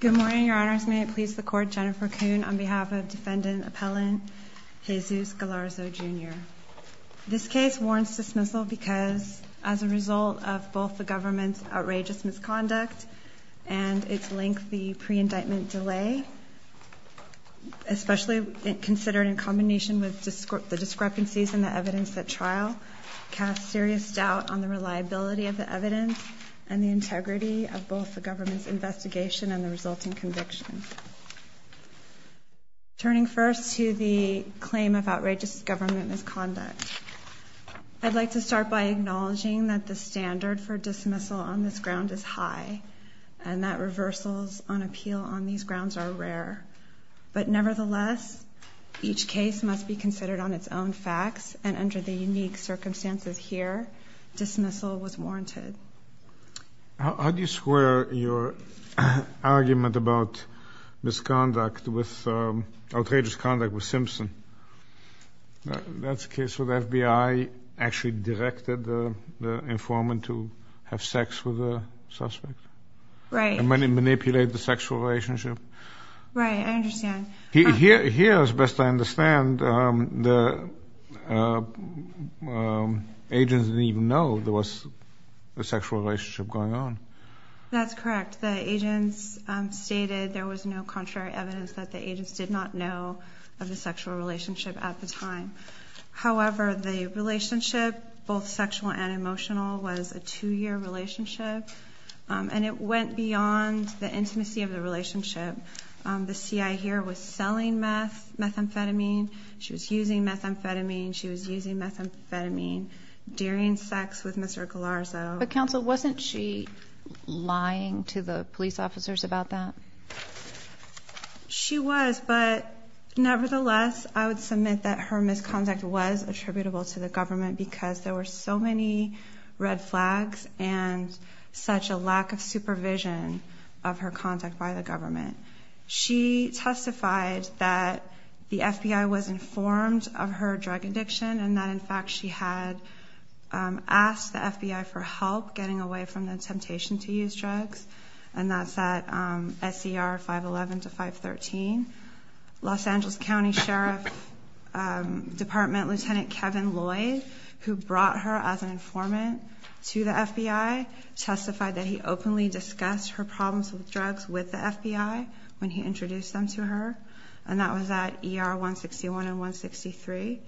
Good morning, Your Honors. May it please the Court, Jennifer Kuhn on behalf of Defendant Appellant Jesus Gallarzo, Jr. This case warrants dismissal because, as a result of both the government's outrageous misconduct and its lengthy pre-indictment delay, especially considered in combination with the discrepancies in the evidence at trial, casts serious doubt on the reliability of the evidence and the integrity of both the government's investigation and the resulting conviction. Turning first to the claim of outrageous government misconduct, I'd like to start by acknowledging that the standard for dismissal on this ground is high and that reversals on appeal on these grounds are rare. But nevertheless, each case must be considered on its own facts, and under the unique circumstances here, dismissal was warranted. How do you square your argument about misconduct with outrageous conduct with Simpson? That's a case where the FBI actually directed the informant to have sex with the suspect? Right. And manipulate the sexual relationship? Right, I understand. Here, as best I understand, the agents didn't even know there was a sexual relationship going on. That's correct. The agents stated there was no contrary evidence that the agents did not know of the sexual relationship at the time. However, the relationship, both sexual and emotional, was a two-year relationship, and it went beyond the intimacy of the relationship. The CI here was selling methamphetamine. She was using methamphetamine. She was using methamphetamine during sex with Mr. Galarzo. But, counsel, wasn't she lying to the police officers about that? She was, but nevertheless, I would submit that her misconduct was attributable to the government because there were so many red flags and such a lack of supervision of her contact by the government. She testified that the FBI was informed of her drug addiction and that, in fact, she had asked the FBI for help getting away from the temptation to use drugs, and that's at SCR 511 to 513. Los Angeles County Sheriff's Department Lieutenant Kevin Lloyd, who brought her as an informant to the FBI, testified that he openly discussed her problems with drugs with the FBI when he introduced them to her, and that was at ER 161 and 163.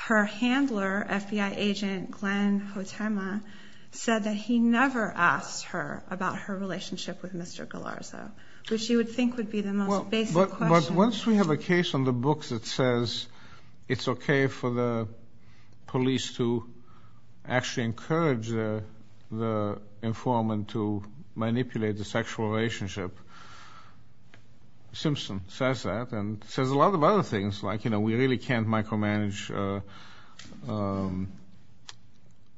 Her handler, FBI agent Glenn Hotema, said that he never asked her about her relationship with Mr. Galarzo, which you would think would be the most basic question. But once we have a case on the books that says it's okay for the police to actually encourage the informant to manipulate the sexual relationship, Simpson says that and says a lot of other things, like, you know, we really can't micromanage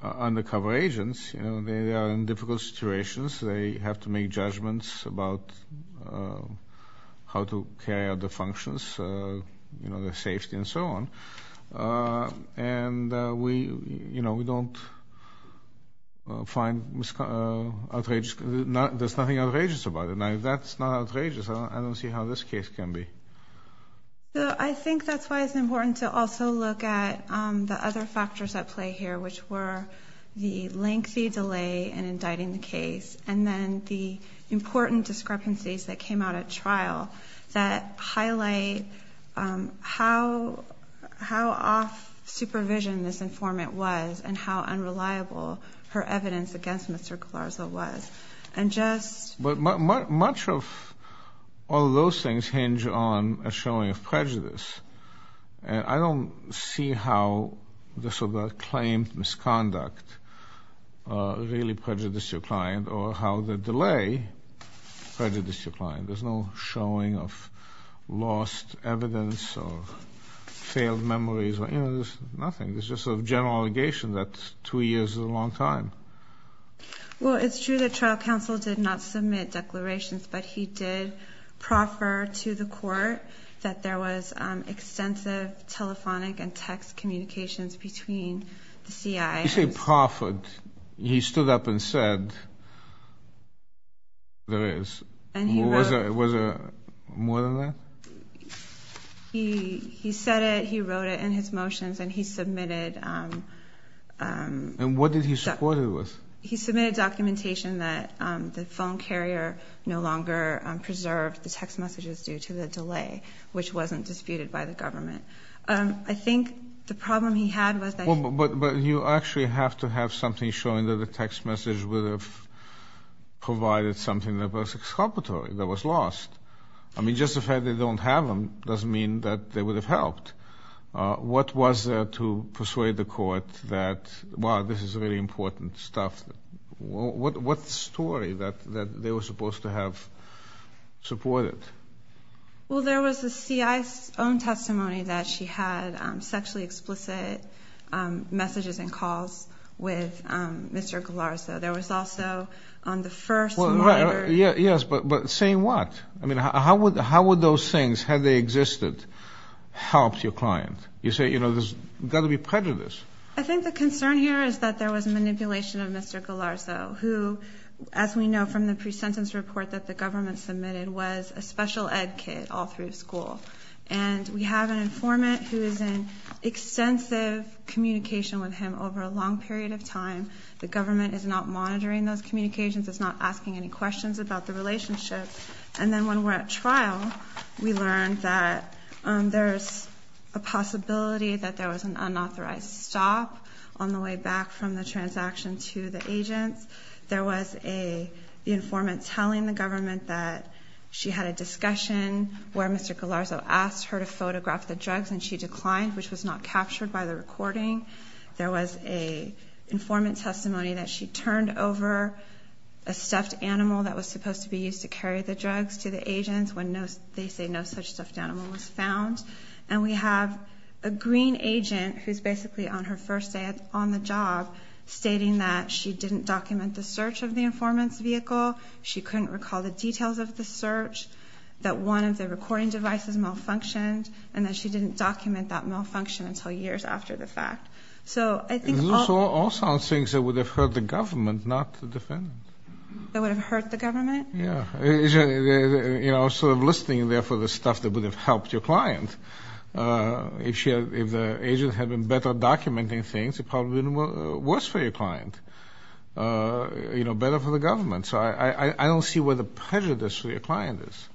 undercover agents. You know, they are in difficult situations. They have to make judgments about how to carry out their functions, you know, their safety and so on. And we, you know, we don't find outrageous. There's nothing outrageous about it. Now, if that's not outrageous, I don't see how this case can be. I think that's why it's important to also look at the other factors at play here, which were the lengthy delay in indicting the case, and then the important discrepancies that came out at trial that highlight how off supervision this informant was and how unreliable her evidence against Mr. Galarzo was. And just... But much of all those things hinge on a showing of prejudice. And I don't see how this sort of claimed misconduct really prejudiced your client or how the delay prejudiced your client. There's no showing of lost evidence or failed memories. You know, there's nothing. It's just a general allegation that two years is a long time. Well, it's true that trial counsel did not submit declarations, but he did proffer to the court that there was extensive telephonic and text communications between the CI. You say proffered. He stood up and said there is. And he wrote... Was there more than that? He said it, he wrote it in his motions, and he submitted... And what did he support it with? He submitted documentation that the phone carrier no longer preserved the text messages due to the delay, which wasn't disputed by the government. I think the problem he had was that... But you actually have to have something showing that the text message would have provided something that was exculpatory, that was lost. I mean, just the fact they don't have them doesn't mean that they would have helped. What was there to persuade the court that, wow, this is really important stuff? What story that they were supposed to have supported? Well, there was the CI's own testimony that she had sexually explicit messages and calls with Mr. Galarzo. There was also on the first monitor... Yes, but saying what? I mean, how would those things, had they existed, helped your client? You say, you know, there's got to be prejudice. I think the concern here is that there was manipulation of Mr. Galarzo, who, as we know from the pre-sentence report that the government submitted, was a special ed kid all through school. And we have an informant who is in extensive communication with him over a long period of time. The government is not monitoring those communications. It's not asking any questions about the relationship. And then when we're at trial, we learned that there's a possibility that there was an unauthorized stop on the way back from the transaction to the agents. There was an informant telling the government that she had a discussion where Mr. Galarzo asked her to photograph the drugs and she declined, which was not captured by the recording. There was an informant testimony that she turned over a stuffed animal that was supposed to be used to carry the drugs to the agents when they say no such stuffed animal was found. And we have a green agent who's basically on her first day on the job stating that she didn't document the search of the informant's vehicle, she couldn't recall the details of the search, that one of the recording devices malfunctioned, and that she didn't document that malfunction until years after the fact. So I think all... Those are all sound things that would have hurt the government, not the defendant. That would have hurt the government? Yeah. You know, sort of listing there for the stuff that would have helped your client. If the agent had been better at documenting things, it probably would have been worse for your client, you know, better for the government. So I don't see where the prejudice for your client is.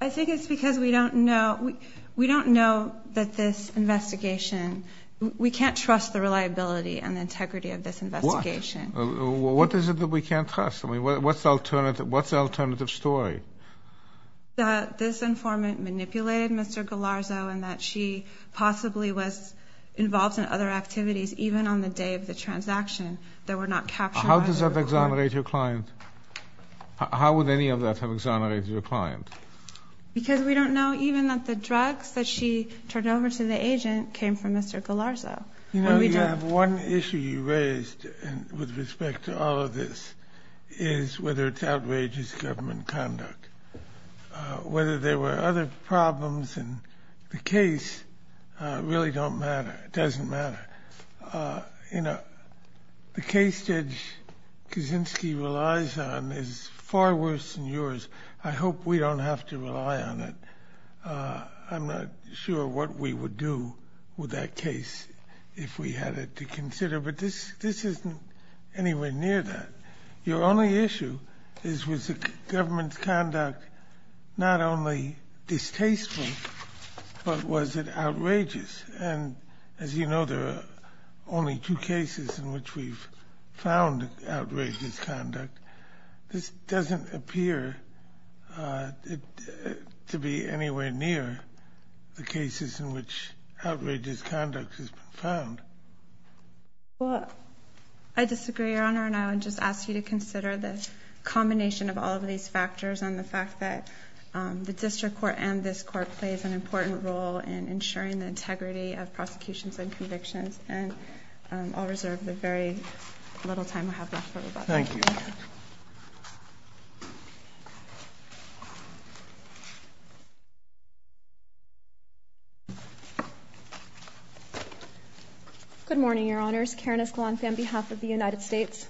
I think it's because we don't know that this investigation, we can't trust the reliability and the integrity of this investigation. Why? What is it that we can't trust? I mean, what's the alternative story? That this informant manipulated Mr. Galarzo and that she possibly was involved in other activities even on the day of the transaction that were not captured by the recording. How does that exonerate your client? How would any of that have exonerated your client? Because we don't know even that the drugs that she turned over to the agent came from Mr. Galarzo. You know, you have one issue you raised with respect to all of this is whether it's outrageous government conduct. Whether there were other problems in the case really don't matter, doesn't matter. You know, the case Judge Kaczynski relies on is far worse than yours. I hope we don't have to rely on it. I'm not sure what we would do with that case if we had it to consider. But this isn't anywhere near that. Your only issue is was the government's conduct not only distasteful, but was it outrageous? And as you know, there are only two cases in which we've found outrageous conduct. This doesn't appear to be anywhere near the cases in which outrageous conduct has been found. Well, I disagree, Your Honor. And I would just ask you to consider the combination of all of these factors and the fact that the district court and this court plays an important role in ensuring the integrity of prosecutions and convictions. And I'll reserve the very little time I have left for rebuttal. Thank you. Good morning, Your Honors. Karen Escalante on behalf of the United States.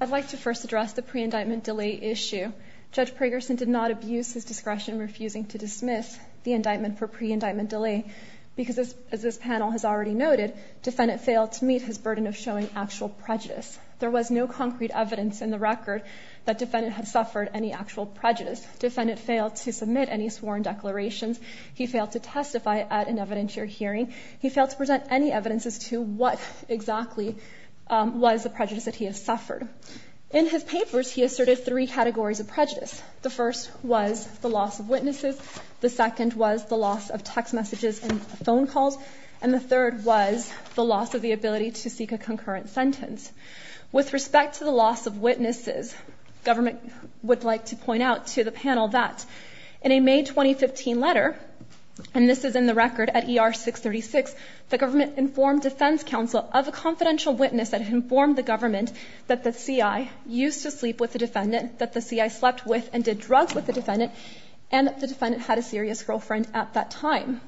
I'd like to first address the pre-indictment delay issue. Judge Pragerson did not abuse his discretion in refusing to dismiss the indictment for pre-indictment delay because, as this panel has already noted, defendant failed to meet his burden of showing actual prejudice. There was no concrete evidence in the record that defendant had suffered any actual prejudice. Defendant failed to submit any sworn declarations. He failed to testify at an evidentiary hearing. He failed to present any evidence as to what exactly was the prejudice that he has suffered. In his papers, he asserted three categories of prejudice. The first was the loss of witnesses. The second was the loss of text messages and phone calls. And the third was the loss of the ability to seek a concurrent sentence. With respect to the loss of witnesses, government would like to point out to the panel that In a May 2015 letter, and this is in the record at ER 636, the government informed defense counsel of a confidential witness that had informed the government that the CI used to sleep with the defendant, that the CI slept with and did drugs with the defendant, and that the defendant had a serious girlfriend at that time.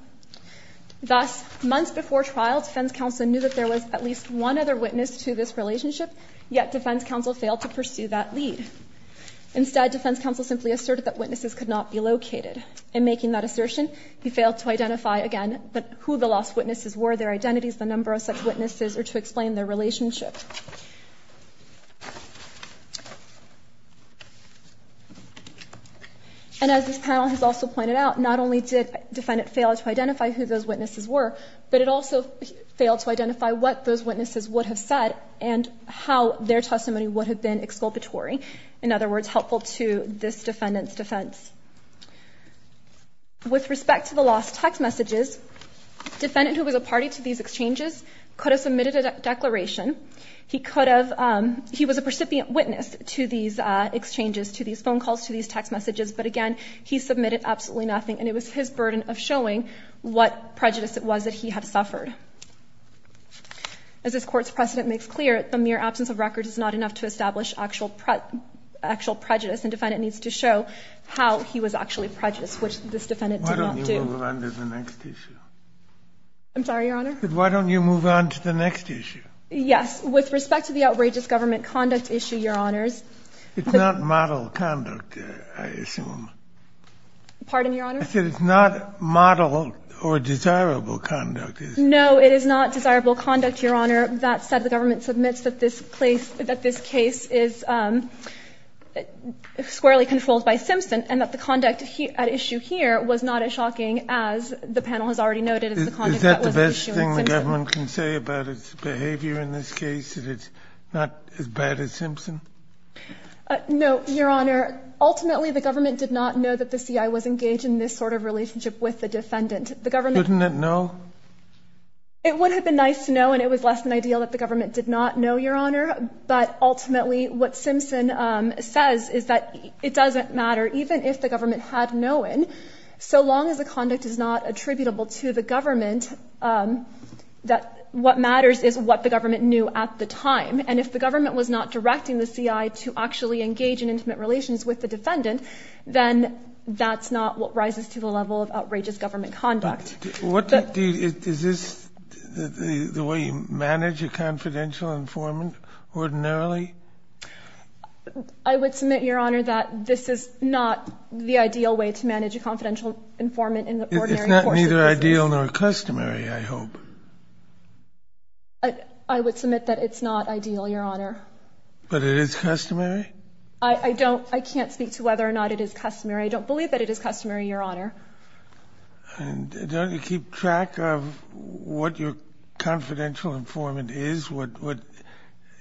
Thus, months before trial, defense counsel knew that there was at least one other witness to this relationship, yet defense counsel failed to pursue that lead. Instead, defense counsel simply asserted that witnesses could not be located. In making that assertion, he failed to identify, again, who the lost witnesses were, their identities, the number of such witnesses, or to explain their relationship. And as this panel has also pointed out, not only did defendant fail to identify who those witnesses were, but it also failed to identify what those witnesses would have said and how their testimony would have been exculpatory. In other words, helpful to this defendant's defense. With respect to the lost text messages, defendant who was a party to these exchanges could have submitted a declaration. He could have, he was a recipient witness to these exchanges, to these phone calls, to these text messages, but again, he submitted absolutely nothing, and it was his burden of showing what prejudice it was that he had suffered. As this Court's precedent makes clear, the mere absence of records is not enough to establish actual prejudice, and defendant needs to show how he was actually prejudiced, which this defendant did not do. Why don't you move on to the next issue? I'm sorry, Your Honor? Why don't you move on to the next issue? Yes. With respect to the outrageous government conduct issue, Your Honors. It's not model conduct, I assume. Pardon, Your Honor? I said it's not model or desirable conduct. No, it is not desirable conduct, Your Honor. That said, the government submits that this place, that this case is squarely controlled by Simpson, and that the conduct at issue here was not as shocking as the panel has already noted. Is that the best thing the government can say about its behavior in this case, that it's not as bad as Simpson? No, Your Honor. Ultimately, the government did not know that the C.I. was engaged in this sort of relationship with the defendant. Couldn't it know? It would have been nice to know, and it was less than ideal that the government did not know, Your Honor. But ultimately, what Simpson says is that it doesn't matter, even if the government had known. So long as the conduct is not attributable to the government, that what matters is what the government knew at the time. And if the government was not directing the C.I. to actually engage in intimate relations with the defendant, then that's not what rises to the level of outrageous government conduct. Is this the way you manage a confidential informant ordinarily? I would submit, Your Honor, that this is not the ideal way to manage a confidential informant in the ordinary course of business. It's not neither ideal nor customary, I hope. I would submit that it's not ideal, Your Honor. But it is customary? I don't – I can't speak to whether or not it is customary. I don't believe that it is customary, Your Honor. And don't you keep track of what your confidential informant is, what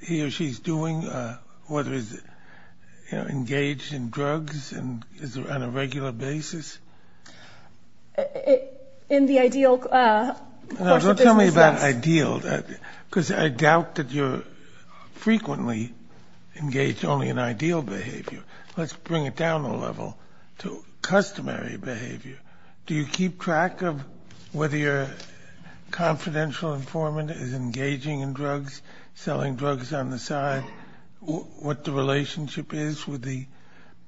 he or she's doing, whether he's engaged in drugs and is on a regular basis? In the ideal course of business, yes. No, don't tell me about ideal, because I doubt that you're frequently engaged only in ideal behavior. Let's bring it down a level to customary behavior. Do you keep track of whether your confidential informant is engaging in drugs, selling drugs on the side, what the relationship is with the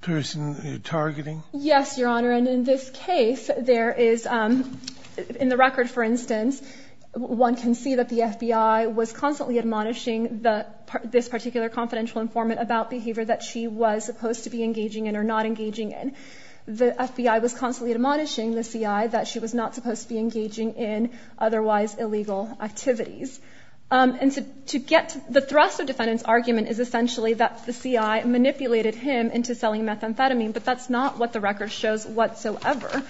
person you're targeting? Yes, Your Honor. And in this case, there is – in the record, for instance, one can see that the FBI was constantly admonishing this particular confidential informant about behavior that she was supposed to be engaging in or not engaging in. The FBI was constantly admonishing the CI that she was not supposed to be engaging in otherwise illegal activities. And to get – the thrust of defendant's argument is essentially that the CI manipulated him into selling methamphetamine, but that's not what the record shows whatsoever.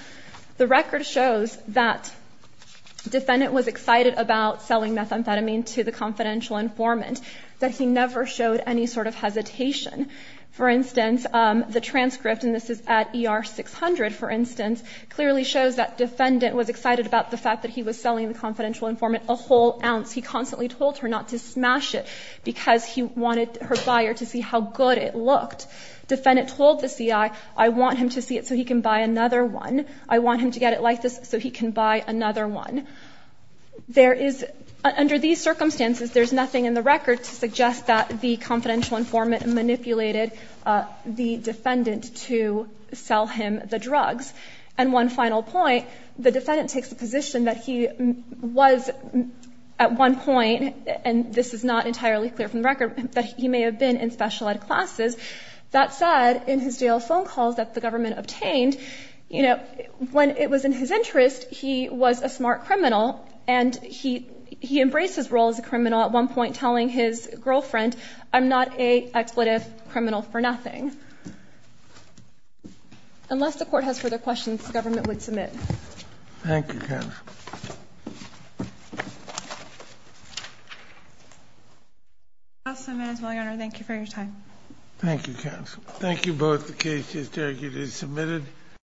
The record shows that defendant was excited about selling methamphetamine to the confidential informant, that he never showed any sort of hesitation. For instance, the transcript – and this is at ER 600, for instance – clearly shows that defendant was excited about the fact that he was selling the confidential informant a whole ounce. He constantly told her not to smash it because he wanted her buyer to see how good it looked. Defendant told the CI, I want him to see it so he can buy another one. I want him to get it like this so he can buy another one. There is – under these circumstances, there's nothing in the record to suggest that the confidential informant manipulated the defendant to sell him the drugs. And one final point. The defendant takes the position that he was at one point – and this is not entirely clear from the record – that he may have been in special ed classes. That said, in his jail phone calls that the government obtained, you know, when it was in his interest, he was a smart criminal, and he embraced his role as a criminal at one point, telling his girlfriend, I'm not a expletive criminal for nothing. Unless the Court has further questions, the government would submit. Thank you, Counsel. Counsel, I may as well, Your Honor, thank you for your time. Thank you, Counsel. Thank you both. The case is targeted and submitted.